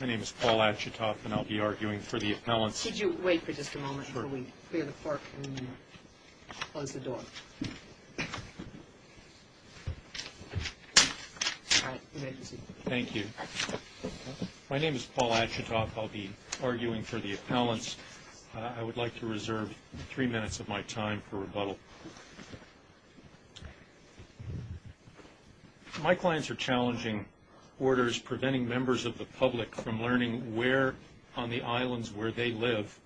My name is Paul Achitoff, and I'll be arguing for the appellants. Could you wait for just a moment before we clear the park and close the door? Thank you. My name is Paul Achitoff. I'll be arguing for the appellants. I would like to reserve three minutes of my time for rebuttal. My clients are challenging orders preventing members of the public from learning where on the islands where they live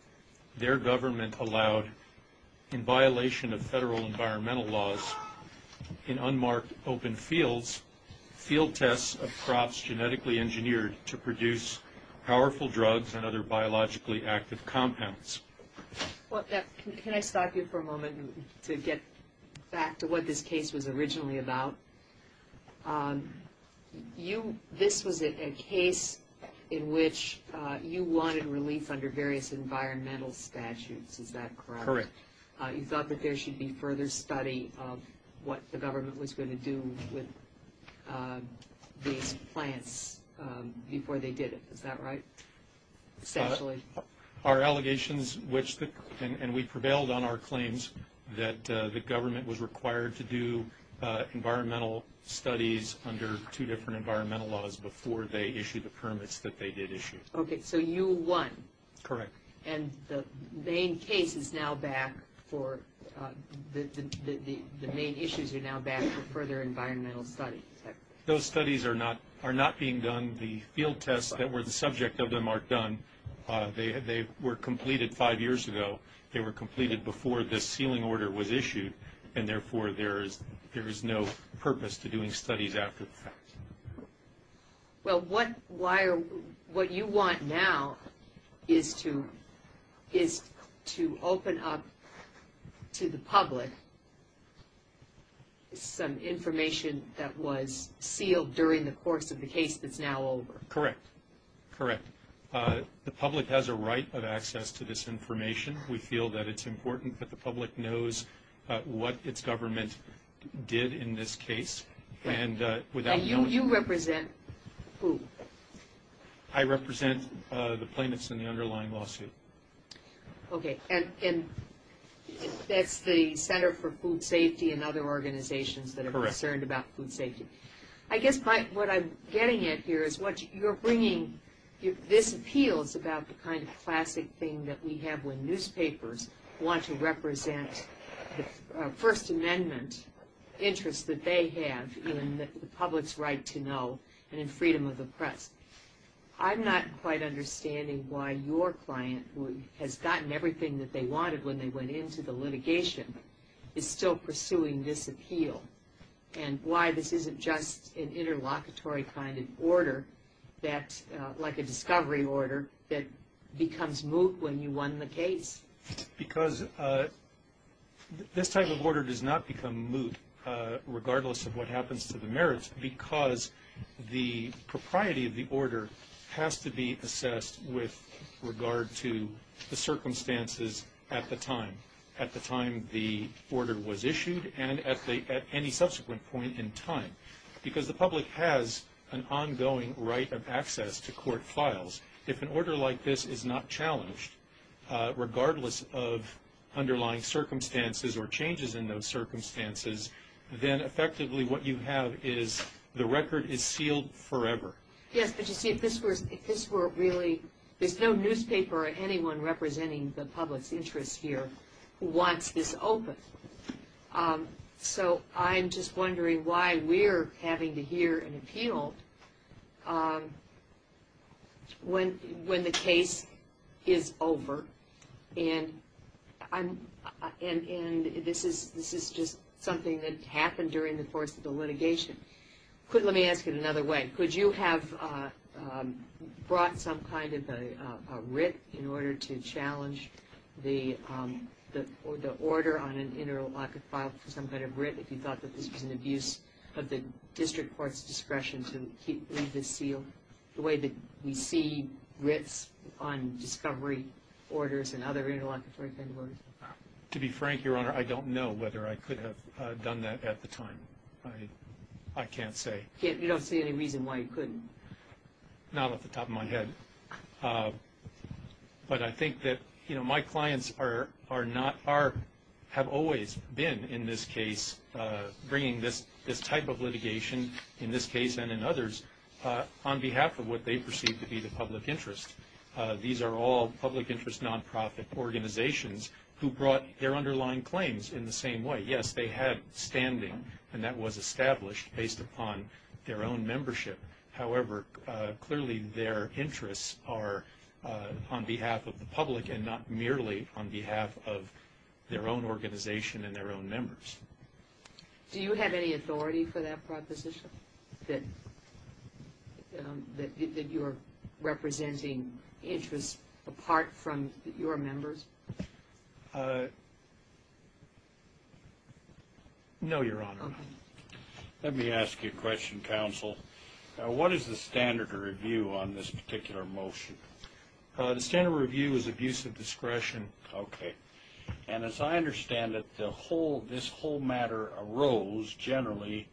their government allowed, in violation of federal environmental laws, in unmarked open fields, field tests of crops genetically engineered to produce powerful drugs and other biologically active compounds. Can I stop you for a moment to get back to what this case was originally about? This was a case in which you wanted relief under various environmental statutes. Is that correct? Correct. You thought that there should be further study of what the government was going to do with these plants before they did it. Is that right? Essentially. Our allegations, and we prevailed on our claims, that the government was required to do environmental studies under two different environmental laws before they issued the permits that they did issue. Okay, so you won. Correct. And the main issues are now back for further environmental studies. Those studies are not being done. The field tests that were the subject of them aren't done. They were completed five years ago. They were completed before this sealing order was issued, and therefore there is no purpose to doing studies after the fact. Well, what you want now is to open up to the public some information that was sealed during the course of the case that's now over. Correct. Correct. The public has a right of access to this information. We feel that it's important that the public knows what its government did in this case. And you represent who? I represent the plaintiffs in the underlying lawsuit. Okay, and that's the Center for Food Safety and other organizations that are concerned about food safety. I guess what I'm getting at here is what you're bringing, this appeals about the kind of classic thing that we have when newspapers want to represent the First Amendment interests that they have in the public's right to know and in freedom of the press. I'm not quite understanding why your client, who has gotten everything that they wanted when they went into the litigation, is still pursuing this appeal, and why this isn't just an interlocutory kind of order like a discovery order that becomes moot when you won the case. Because this type of order does not become moot regardless of what happens to the merits because the propriety of the order has to be assessed with regard to the circumstances at the time, at the time the order was issued and at any subsequent point in time. Because the public has an ongoing right of access to court files. If an order like this is not challenged, regardless of underlying circumstances or changes in those circumstances, then effectively what you have is the record is sealed forever. Yes, but you see, if this were really, there's no newspaper or anyone representing the public's interests here who wants this open. So I'm just wondering why we're having to hear an appeal when the case is over and this is just something that happened during the course of the litigation. Let me ask it another way. Could you have brought some kind of a writ in order to challenge the order on an interlocutory file for some kind of writ if you thought that this was an abuse of the district court's discretion to leave this sealed? The way that we see writs on discovery orders and other interlocutory kind of orders? To be frank, Your Honor, I don't know whether I could have done that at the time. I can't say. You don't see any reason why you couldn't? Not off the top of my head. But I think that my clients have always been, in this case, bringing this type of litigation, in this case and in others, on behalf of what they perceive to be the public interest. These are all public interest nonprofit organizations who brought their underlying claims in the same way. Yes, they have standing, and that was established based upon their own membership. However, clearly their interests are on behalf of the public and not merely on behalf of their own organization and their own members. Do you have any authority for that proposition, that you're representing interests apart from your members? No, Your Honor. Let me ask you a question, counsel. What is the standard of review on this particular motion? The standard review is abuse of discretion. Okay. And as I understand it, this whole matter arose generally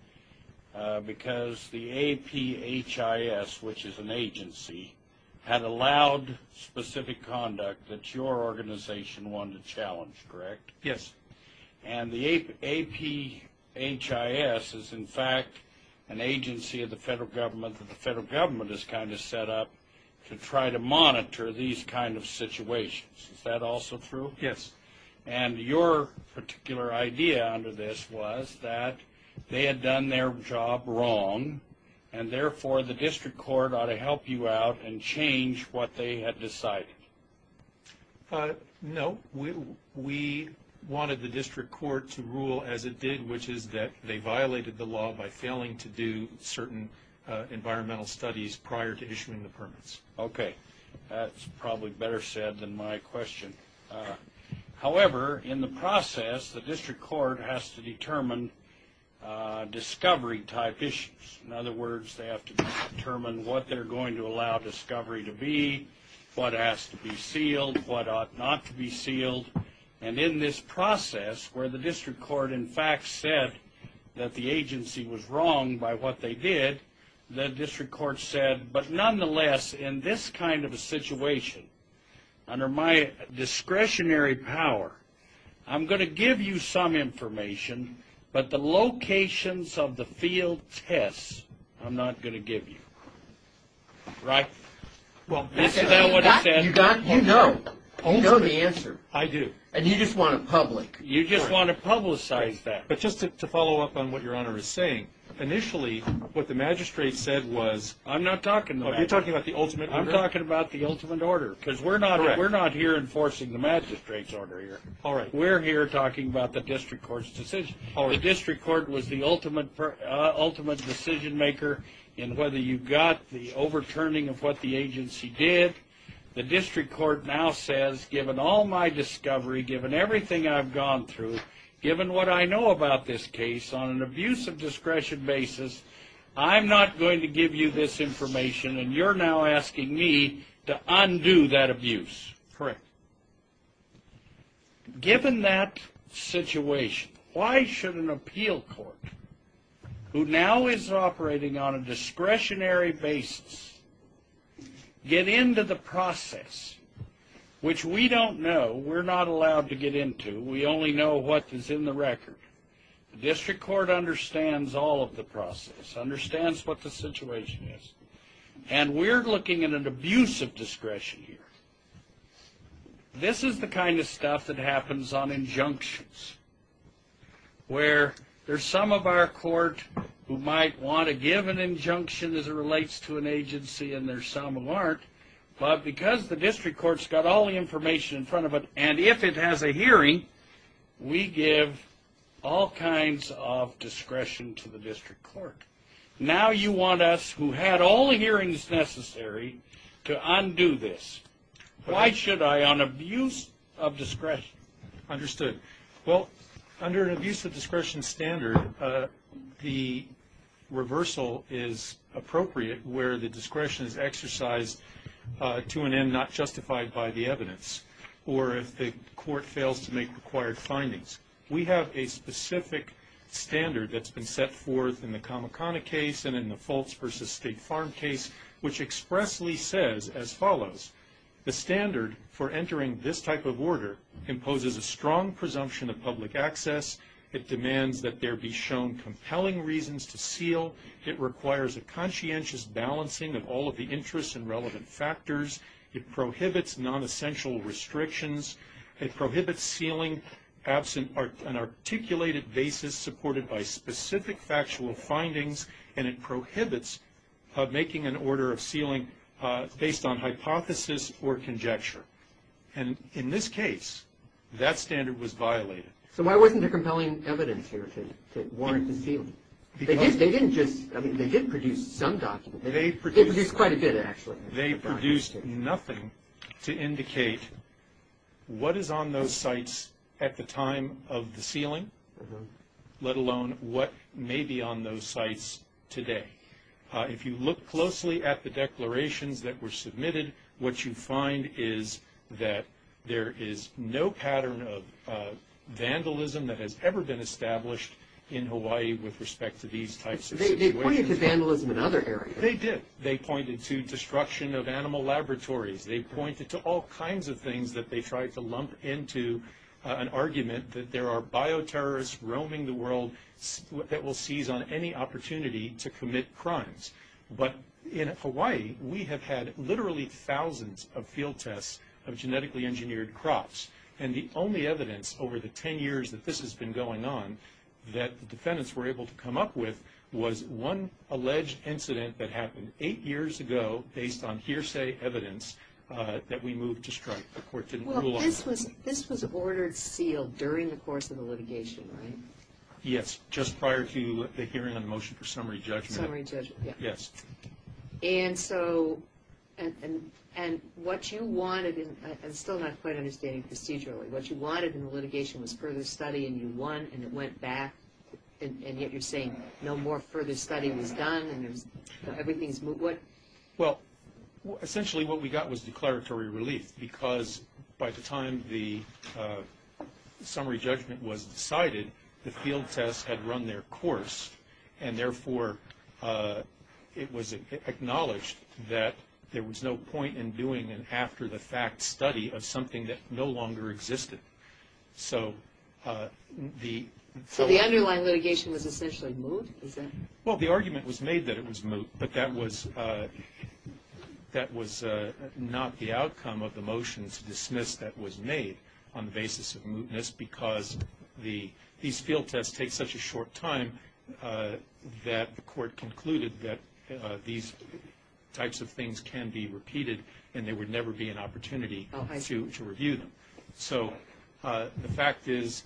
because the APHIS, which is an agency, had allowed specific conduct that your organization wanted to challenge, correct? Yes. And the APHIS is, in fact, an agency of the federal government that the federal government has kind of set up to try to monitor these kind of situations. Is that also true? Yes. And your particular idea under this was that they had done their job wrong, and therefore the district court ought to help you out and change what they had decided. No, we wanted the district court to rule as it did, which is that they violated the law by failing to do certain environmental studies prior to issuing the permits. Okay. That's probably better said than my question. However, in the process, the district court has to determine discovery-type issues. In other words, they have to determine what they're going to allow discovery to be, what has to be sealed, what ought not to be sealed. And in this process, where the district court, in fact, said that the agency was wrong by what they did, the district court said, but nonetheless, in this kind of a situation, under my discretionary power, I'm going to give you some information, but the locations of the field tests I'm not going to give you. Right? Well, that's what I said. You know. You know the answer. I do. And you just want to public. You just want to publicize that. But just to follow up on what Your Honor is saying, initially, what the magistrate said was... I'm not talking about... You're talking about the ultimate order? I'm talking about the ultimate order. Correct. Because we're not here enforcing the magistrate's order here. All right. We're here talking about the district court's decision. All right. The district court was the ultimate decision maker in whether you got the overturning of what the agency did. The district court now says, given all my discovery, given everything I've gone through, given what I know about this case on an abuse of discretion basis, I'm not going to give you this information, and you're now asking me to undo that abuse. Correct. Given that situation, why should an appeal court, who now is operating on a discretionary basis, get into the process, which we don't know, we're not allowed to get into, we only know what is in the record. The district court understands all of the process, understands what the situation is, and we're looking at an abuse of discretion here. This is the kind of stuff that happens on injunctions, where there's some of our court who might want to give an injunction as it relates to an agency, and there's some who aren't, but because the district court's got all the information in front of it, and if it has a hearing, we give all kinds of discretion to the district court. Now you want us, who had all the hearings necessary, to undo this. Why should I, on abuse of discretion? Understood. Well, under an abuse of discretion standard, the reversal is appropriate, where the discretion is exercised to an end not justified by the evidence, or if the court fails to make required findings. We have a specific standard that's been set forth in the Kamakana case and in the Fultz v. State Farm case, which expressly says as follows, the standard for entering this type of order imposes a strong presumption of public access, it demands that there be shown compelling reasons to seal, it requires a conscientious balancing of all of the interests and relevant factors, it prohibits nonessential restrictions, it prohibits sealing absent an articulated basis supported by specific factual findings, and it prohibits making an order of sealing based on hypothesis or conjecture. And in this case, that standard was violated. So why wasn't there compelling evidence here to warrant the sealing? They did produce some documents. They produced quite a bit, actually. They produced nothing to indicate what is on those sites at the time of the sealing, let alone what may be on those sites today. If you look closely at the declarations that were submitted, what you find is that there is no pattern of vandalism that has ever been established in Hawaii with respect to these types of situations. They pointed to vandalism in other areas. They did. They pointed to destruction of animal laboratories. They pointed to all kinds of things that they tried to lump into an argument that there are bioterrorists roaming the world that will seize on any opportunity to commit crimes. But in Hawaii, we have had literally thousands of field tests of genetically engineered crops, and the only evidence over the 10 years that this has been going on that the defendants were able to come up with was one alleged incident that happened eight years ago based on hearsay evidence that we moved to strike. The court didn't rule on it. Well, this was ordered sealed during the course of the litigation, right? Yes, just prior to the hearing on the motion for summary judgment. Summary judgment, yeah. Yes. And so what you wanted, and still not quite understanding procedurally, what you wanted in the litigation was further study, and you won, and it went back, and yet you're saying no more further study was done, and everything's moved. Well, essentially what we got was declaratory relief because by the time the summary judgment was decided, the field tests had run their course, and therefore it was acknowledged that there was no point in doing an after-the-fact study of something that no longer existed. So the underlying litigation was essentially moved? Well, the argument was made that it was moved, but that was not the outcome of the motion to dismiss that was made on the basis of mootness because these field tests take such a short time that the court concluded that these types of things can be repeated and there would never be an opportunity to review them. So the fact is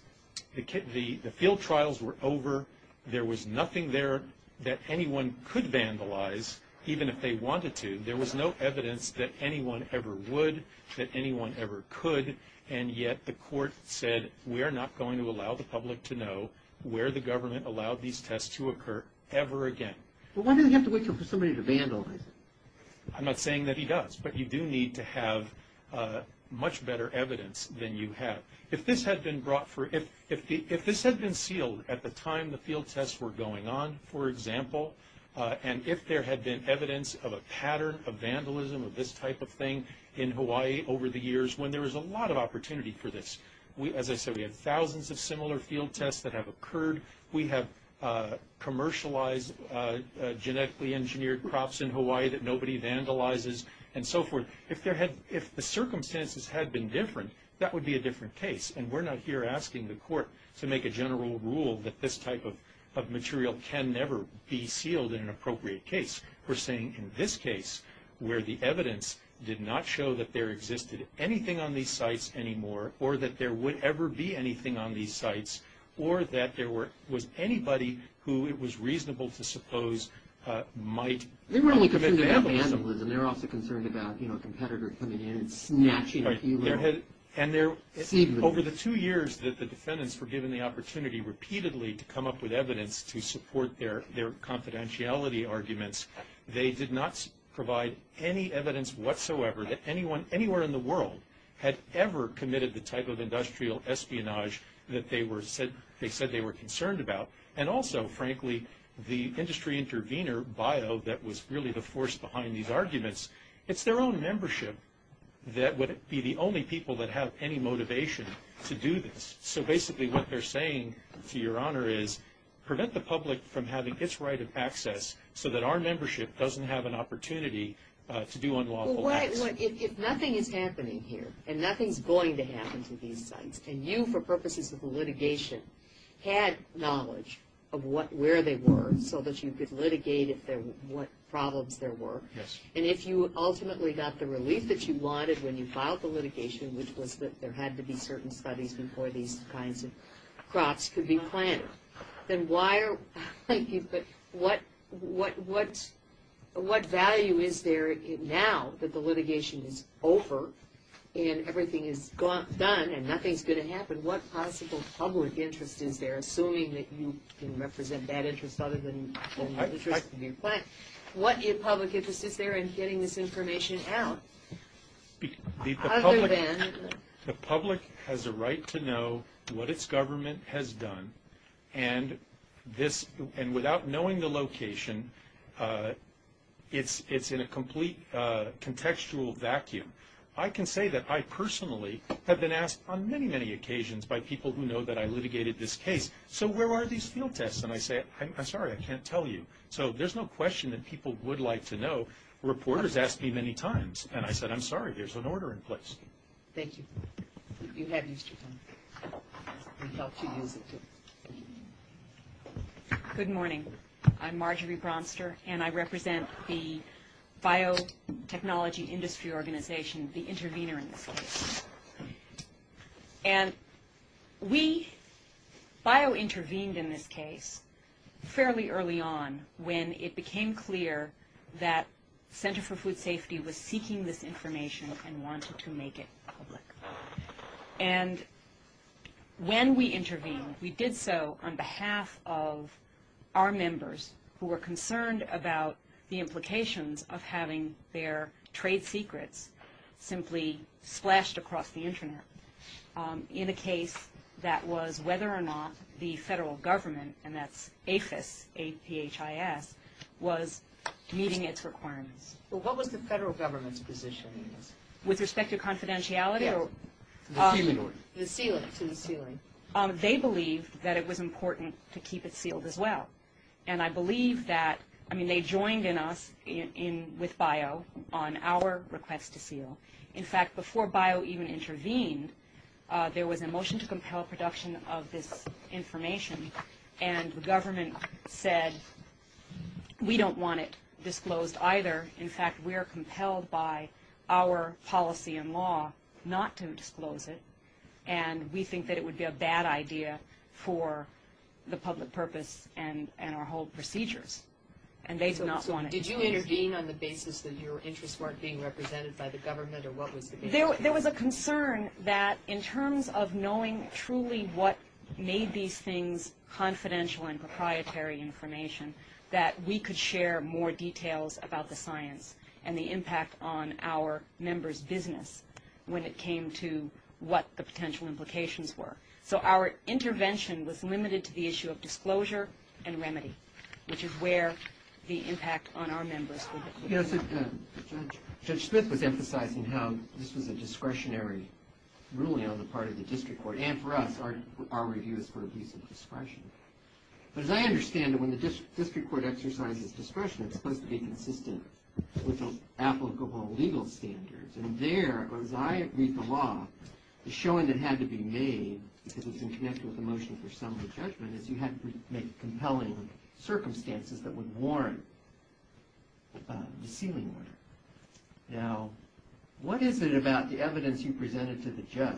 the field trials were over. There was nothing there that anyone could vandalize, even if they wanted to. There was no evidence that anyone ever would, that anyone ever could, and yet the court said, we are not going to allow the public to know where the government allowed these tests to occur ever again. Well, why do they have to wait for somebody to vandalize it? I'm not saying that he does, but you do need to have much better evidence than you have. If this had been brought for – if this had been sealed at the time the field tests were going on, for example, and if there had been evidence of a pattern of vandalism of this type of thing in Hawaii over the years when there was a lot of opportunity for this. As I said, we have thousands of similar field tests that have occurred. We have commercialized genetically engineered crops in Hawaii that nobody vandalizes and so forth. If the circumstances had been different, that would be a different case, and we're not here asking the court to make a general rule that this type of material can never be sealed in an appropriate case. We're saying in this case where the evidence did not show that there existed anything on these sites anymore or that there would ever be anything on these sites or that there was anybody who it was reasonable to suppose might commit vandalism. They weren't only concerned about vandalism. They were also concerned about a competitor coming in and snatching a few little seedlings. And over the two years that the defendants were given the opportunity repeatedly to come up with evidence to support their confidentiality arguments, they did not provide any evidence whatsoever that anyone – had ever committed the type of industrial espionage that they said they were concerned about. And also, frankly, the industry intervener bio that was really the force behind these arguments, it's their own membership that would be the only people that have any motivation to do this. So basically what they're saying, to your honor, is prevent the public from having its right of access so that our membership doesn't have an opportunity to do unlawful acts. If nothing is happening here and nothing's going to happen to these sites, and you, for purposes of litigation, had knowledge of where they were so that you could litigate what problems there were, and if you ultimately got the relief that you wanted when you filed the litigation, which was that there had to be certain studies before these kinds of crops could be planted, then why are – what value is there now that the litigation is over and everything is done and nothing's going to happen? What possible public interest is there, assuming that you can represent that interest other than the interest in your plant? What public interest is there in getting this information out? The public has a right to know what its government has done, and without knowing the location, it's in a complete contextual vacuum. I can say that I personally have been asked on many, many occasions by people who know that I litigated this case, so where are these field tests? And I say, I'm sorry, I can't tell you. So there's no question that people would like to know. And reporters ask me many times, and I said, I'm sorry, there's an order in place. Thank you. You have used your phone. We've helped you use it, too. Good morning. I'm Marjorie Bronster, and I represent the Biotechnology Industry Organization, the intervener in this case. And we bio-intervened in this case fairly early on, when it became clear that Center for Food Safety was seeking this information and wanted to make it public. And when we intervened, we did so on behalf of our members, who were concerned about the implications of having their trade secrets simply splashed across the Internet, in a case that was whether or not the federal government, and that's APHIS, A-P-H-I-S, was meeting its requirements. Well, what was the federal government's position in this? With respect to confidentiality? Yes, the sealing order. The sealing, to the sealing. They believed that it was important to keep it sealed as well. And I believe that, I mean, they joined in us with BIO on our request to seal. In fact, before BIO even intervened, there was a motion to compel production of this information, and the government said, we don't want it disclosed either. In fact, we are compelled by our policy and law not to disclose it, and we think that it would be a bad idea for the public purpose and our whole procedures. And they did not want it disclosed. Did you intervene on the basis that your interests weren't being represented by the government, or what was the big issue? There was a concern that in terms of knowing truly what made these things confidential and proprietary information, that we could share more details about the science and the impact on our members' business when it came to what the potential implications were. So our intervention was limited to the issue of disclosure and remedy, which is where the impact on our members would be. Judge Smith was emphasizing how this was a discretionary ruling on the part of the district court, and for us, our review is for abuse of discretion. But as I understand it, when the district court exercises discretion, it's supposed to be consistent with applicable legal standards. And there, as I read the law, the showing that had to be made, because it's in connection with the motion for summary judgment, is you had to make compelling circumstances that would warrant the sealing order. Now, what is it about the evidence you presented to the judge,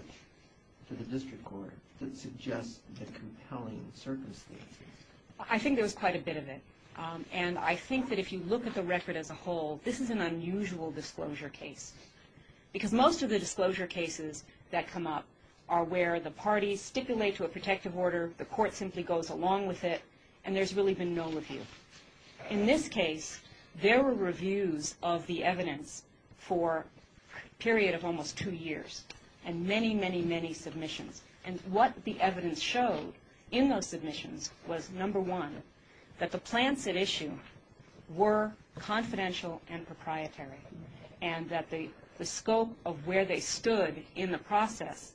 to the district court, that suggests the compelling circumstances? I think there was quite a bit of it. And I think that if you look at the record as a whole, this is an unusual disclosure case, because most of the disclosure cases that come up are where the parties stipulate to a protective order, the court simply goes along with it, and there's really been no review. In this case, there were reviews of the evidence for a period of almost two years, and many, many, many submissions. And what the evidence showed in those submissions was, number one, that the plants at issue were confidential and proprietary, and that the scope of where they stood in the process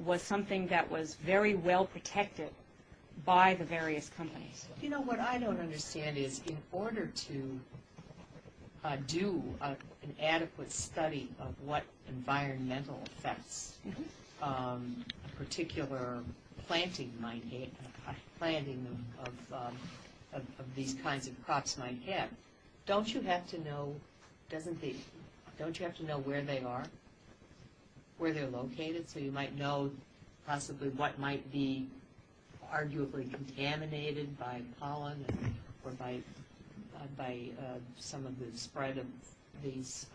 was something that was very well protected by the various companies. You know, what I don't understand is, in order to do an adequate study of what environmental effects a particular planting might have, a planting of these kinds of crops might have, don't you have to know, doesn't the, don't you have to know where they are, where they're located, so you might know possibly what might be arguably contaminated by pollen or by some of the spread of these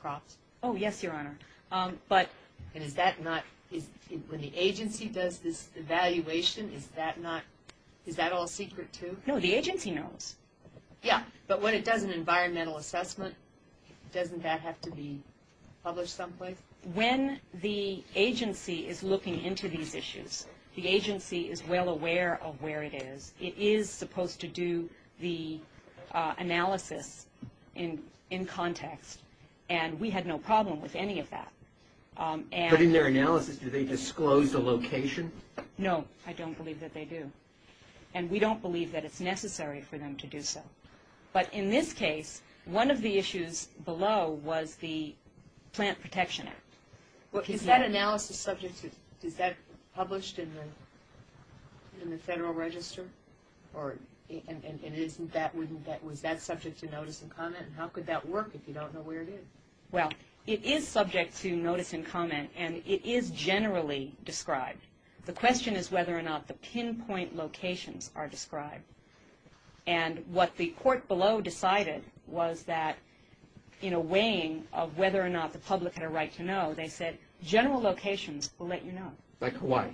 crops? Oh, yes, Your Honor. But is that not, when the agency does this evaluation, is that not, is that all secret too? No, the agency knows. Yeah, but when it does an environmental assessment, doesn't that have to be published someplace? When the agency is looking into these issues, the agency is well aware of where it is. It is supposed to do the analysis in context, and we had no problem with any of that. But in their analysis, do they disclose the location? No, I don't believe that they do, and we don't believe that it's necessary for them to do so. But in this case, one of the issues below was the Plant Protection Act. Is that analysis subject to, is that published in the Federal Register, and was that subject to notice and comment, and how could that work if you don't know where it is? Well, it is subject to notice and comment, and it is generally described. The question is whether or not the pinpoint locations are described, and what the court below decided was that in a weighing of whether or not the public had a right to know, they said general locations will let you know. Like Hawaii?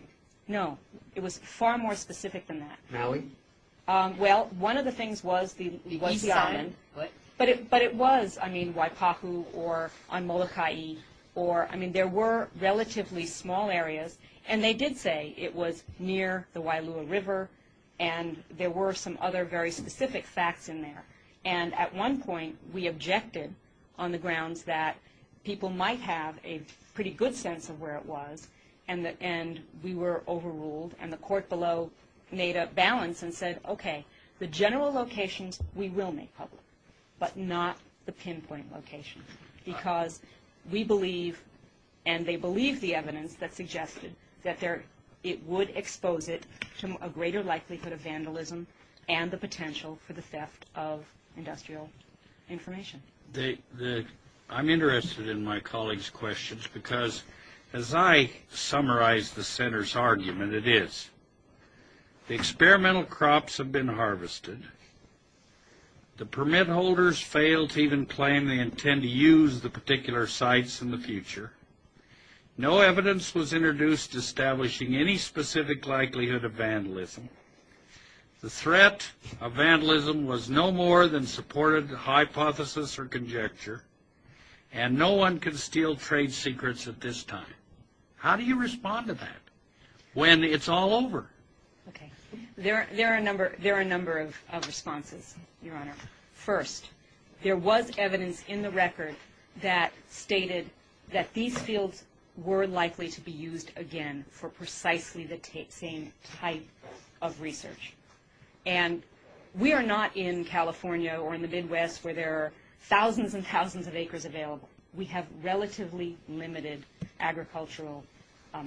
No, it was far more specific than that. Maui? Well, one of the things was the island, but it was, I mean, Waipahu or on Moloka'i, or, I mean, there were relatively small areas, and they did say it was near the Wailua River, and there were some other very specific facts in there. And at one point, we objected on the grounds that people might have a pretty good sense of where it was, and we were overruled, and the court below made a balance and said, okay, the general locations, we will make public, but not the pinpoint locations, because we believe, and they believe the evidence that suggested that it would expose it to a greater likelihood of vandalism and the potential for the theft of industrial information. I'm interested in my colleague's questions, because as I summarize the center's argument, it is, the experimental crops have been harvested. The permit holders fail to even claim they intend to use the particular sites in the future. No evidence was introduced establishing any specific likelihood of vandalism. The threat of vandalism was no more than supported hypothesis or conjecture, and no one can steal trade secrets at this time. How do you respond to that when it's all over? Okay. There are a number of responses, Your Honor. First, there was evidence in the record that stated that these fields were likely to be used again for precisely the same type of research. And we are not in California or in the Midwest where there are thousands and thousands of acres available. We have relatively limited agricultural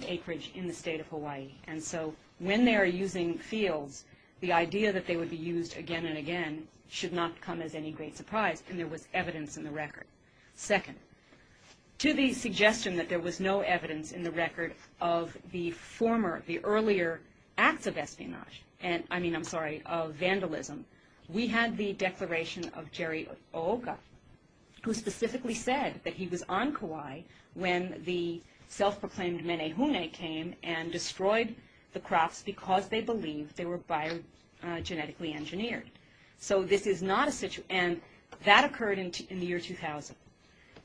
acreage in the state of Hawaii. And so when they are using fields, the idea that they would be used again and again should not come as any great surprise. And there was evidence in the record. Second, to the suggestion that there was no evidence in the record of the former, the earlier acts of espionage, I mean, I'm sorry, of vandalism, we had the declaration of Jerry Aoka, who specifically said that he was on Kauai when the self-proclaimed Menehune came and destroyed the crops because they believed they were biogenetically engineered. So this is not a situation – and that occurred in the year 2000.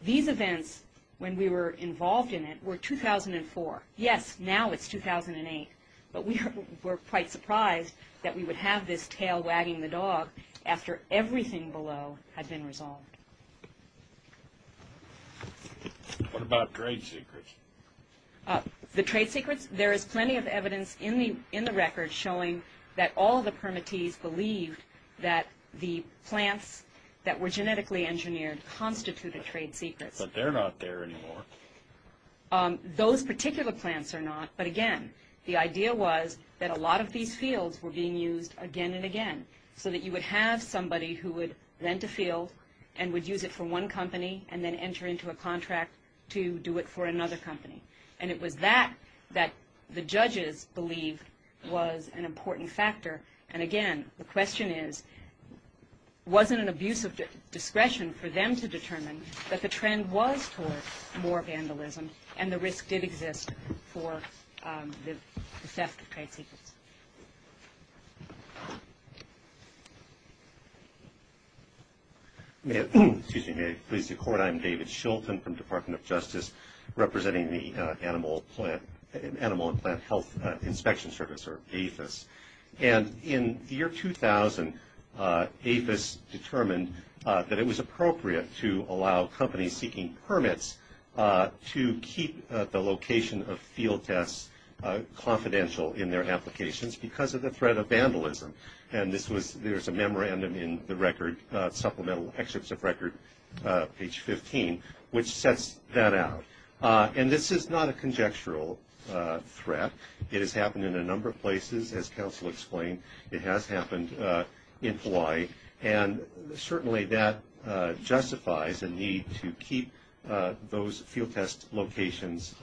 These events, when we were involved in it, were 2004. Yes, now it's 2008. But we were quite surprised that we would have this tail wagging the dog after everything below had been resolved. What about trade secrets? The trade secrets? There is plenty of evidence in the record showing that all the permittees believed that the plants that were genetically engineered constituted trade secrets. But they're not there anymore. Those particular plants are not. But again, the idea was that a lot of these fields were being used again and again so that you would have somebody who would rent a field and would use it for one company and then enter into a contract to do it for another company. And it was that that the judges believed was an important factor. And again, the question is, wasn't an abuse of discretion for them to determine that the trend was towards more vandalism and the risk did exist for the theft of trade secrets? May it please the Court? I'm David Shilton from the Department of Justice, representing the Animal and Plant Health Inspection Service, or APHIS. And in the year 2000, APHIS determined that it was appropriate to allow companies seeking permits to keep the location of field tests confidential in their applications because of the threat of vandalism. And there's a memorandum in the supplemental excerpts of record, page 15, which sets that out. And this is not a conjectural threat. It has happened in a number of places, as counsel explained. It has happened in Hawaii. And certainly that justifies a need to keep those field test locations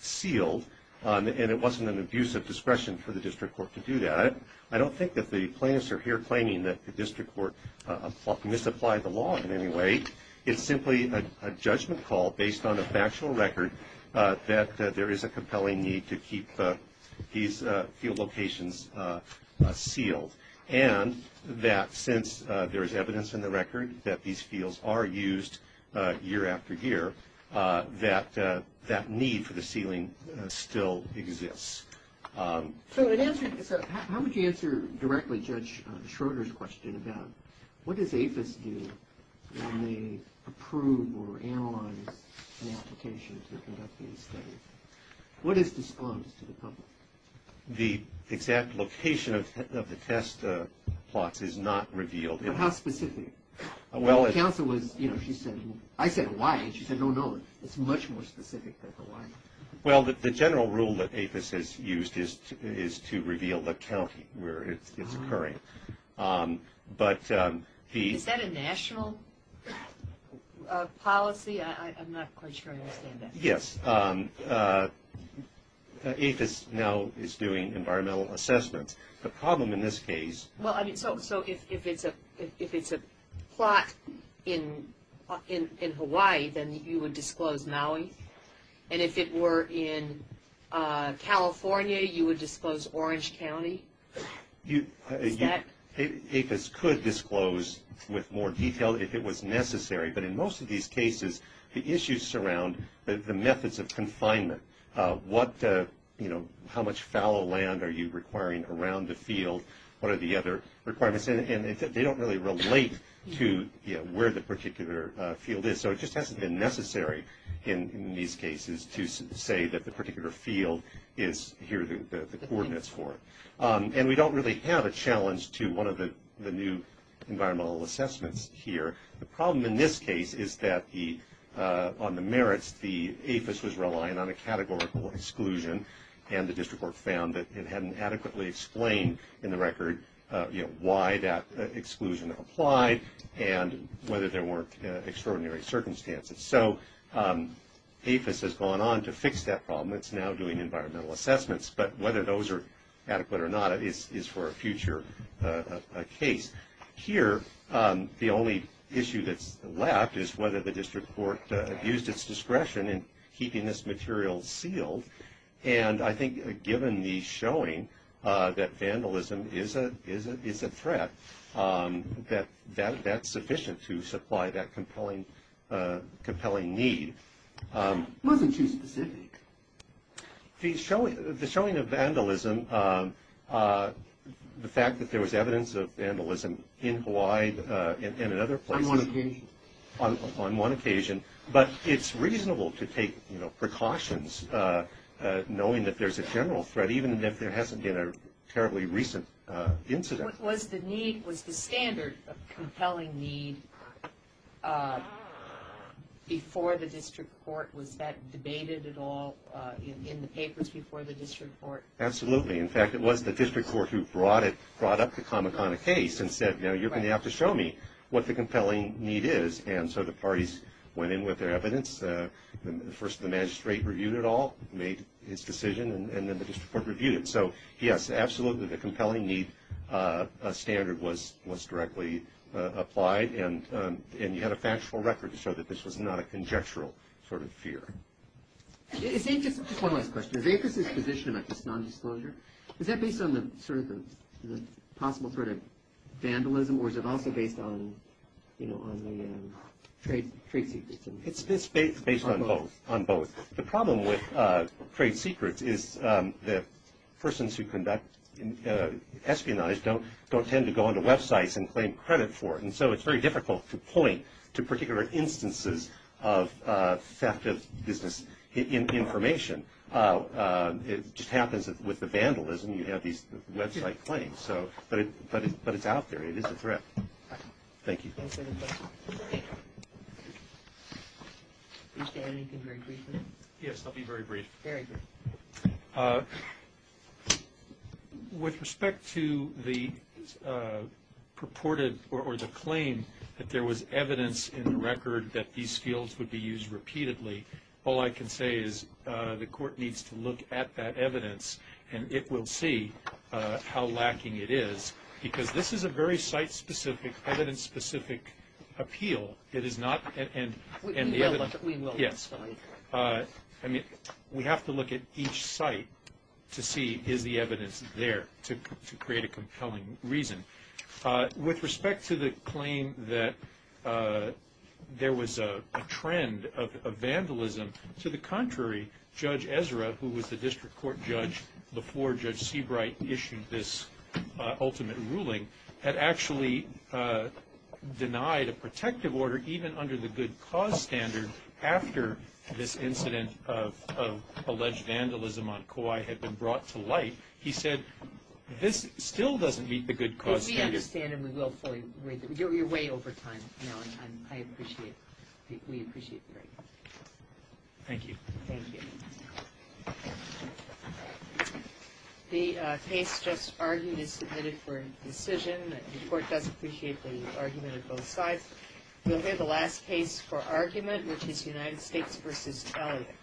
sealed. And it wasn't an abuse of discretion for the district court to do that. I don't think that the plaintiffs are here claiming that the district court misapplied the law in any way. It's simply a judgment call based on a factual record that there is a compelling need to keep these field locations sealed. And that since there is evidence in the record that these fields are used year after year, that that need for the sealing still exists. So how would you answer directly Judge Schroeder's question about what does APHIS do when they approve or analyze an application to conduct these studies? What is disclosed to the public? The exact location of the test plots is not revealed. How specific? Well, counsel was, you know, she said, I said Hawaii. She said, no, no, it's much more specific than Hawaii. Well, the general rule that APHIS has used is to reveal the county where it's occurring. But the – Is that a national policy? I'm not quite sure I understand that. Yes. APHIS now is doing environmental assessments. The problem in this case – Well, I mean, so if it's a plot in Hawaii, then you would disclose Maui? And if it were in California, you would disclose Orange County? Is that – APHIS could disclose with more detail if it was necessary. But in most of these cases, the issues surround the methods of confinement. What, you know, how much fallow land are you requiring around the field? What are the other requirements? And they don't really relate to, you know, where the particular field is. So it just hasn't been necessary in these cases to say that the particular field is here, the coordinates for it. And we don't really have a challenge to one of the new environmental assessments here. The problem in this case is that the – on the merits, the APHIS was relying on a categorical exclusion, and the district court found that it hadn't adequately explained in the record, you know, why that exclusion applied and whether there weren't extraordinary circumstances. So APHIS has gone on to fix that problem. It's now doing environmental assessments. But whether those are adequate or not is for a future case. Here, the only issue that's left is whether the district court used its discretion in keeping this material sealed. And I think given the showing that vandalism is a threat, that that's sufficient to supply that compelling need. It wasn't too specific. The showing of vandalism, the fact that there was evidence of vandalism in Hawaii and in other places. On one occasion. On one occasion. But it's reasonable to take, you know, precautions, knowing that there's a general threat, even if there hasn't been a terribly recent incident. Was the need – was the standard of compelling need before the district court, was that debated at all in the papers before the district court? Absolutely. In fact, it was the district court who brought it – brought up the Kamakana case and said, you know, what the compelling need is. And so the parties went in with their evidence. First, the magistrate reviewed it all, made his decision, and then the district court reviewed it. So, yes, absolutely, the compelling need standard was directly applied. And you had a factual record to show that this was not a conjectural sort of fear. Just one last question. Does ACOS's position about this nondisclosure, is that based on sort of the possible threat of vandalism, or is it also based on, you know, on the trade secrets? It's based on both. On both. The problem with trade secrets is the persons who conduct espionage don't tend to go onto websites and claim credit for it. And so it's very difficult to point to particular instances of theft of business information. It just happens that with the vandalism, you have these website claims. So – but it's out there. It is a threat. Thank you. One second, please. Can you say anything very briefly? Yes, I'll be very brief. Very brief. With respect to the purported or the claim that there was evidence in the record that these fields would be used repeatedly, all I can say is the court needs to look at that evidence, and it will see how lacking it is, because this is a very site-specific, evidence-specific appeal. It is not – and the evidence – We will look at it. Yes. I mean, we have to look at each site to see is the evidence there to create a compelling reason. With respect to the claim that there was a trend of vandalism, to the contrary, Judge Ezra, who was the district court judge before Judge Seabright issued this ultimate ruling, had actually denied a protective order even under the good cause standard after this incident of alleged vandalism on Kauai had been brought to light. He said this still doesn't meet the good cause standard. We understand, and we will fully – we're way over time now, and I appreciate – we appreciate the break. Thank you. Thank you. Thank you. The case just argued is submitted for decision. The court does appreciate the argument of both sides. We'll hear the last case for argument, which is United States v. Elliott.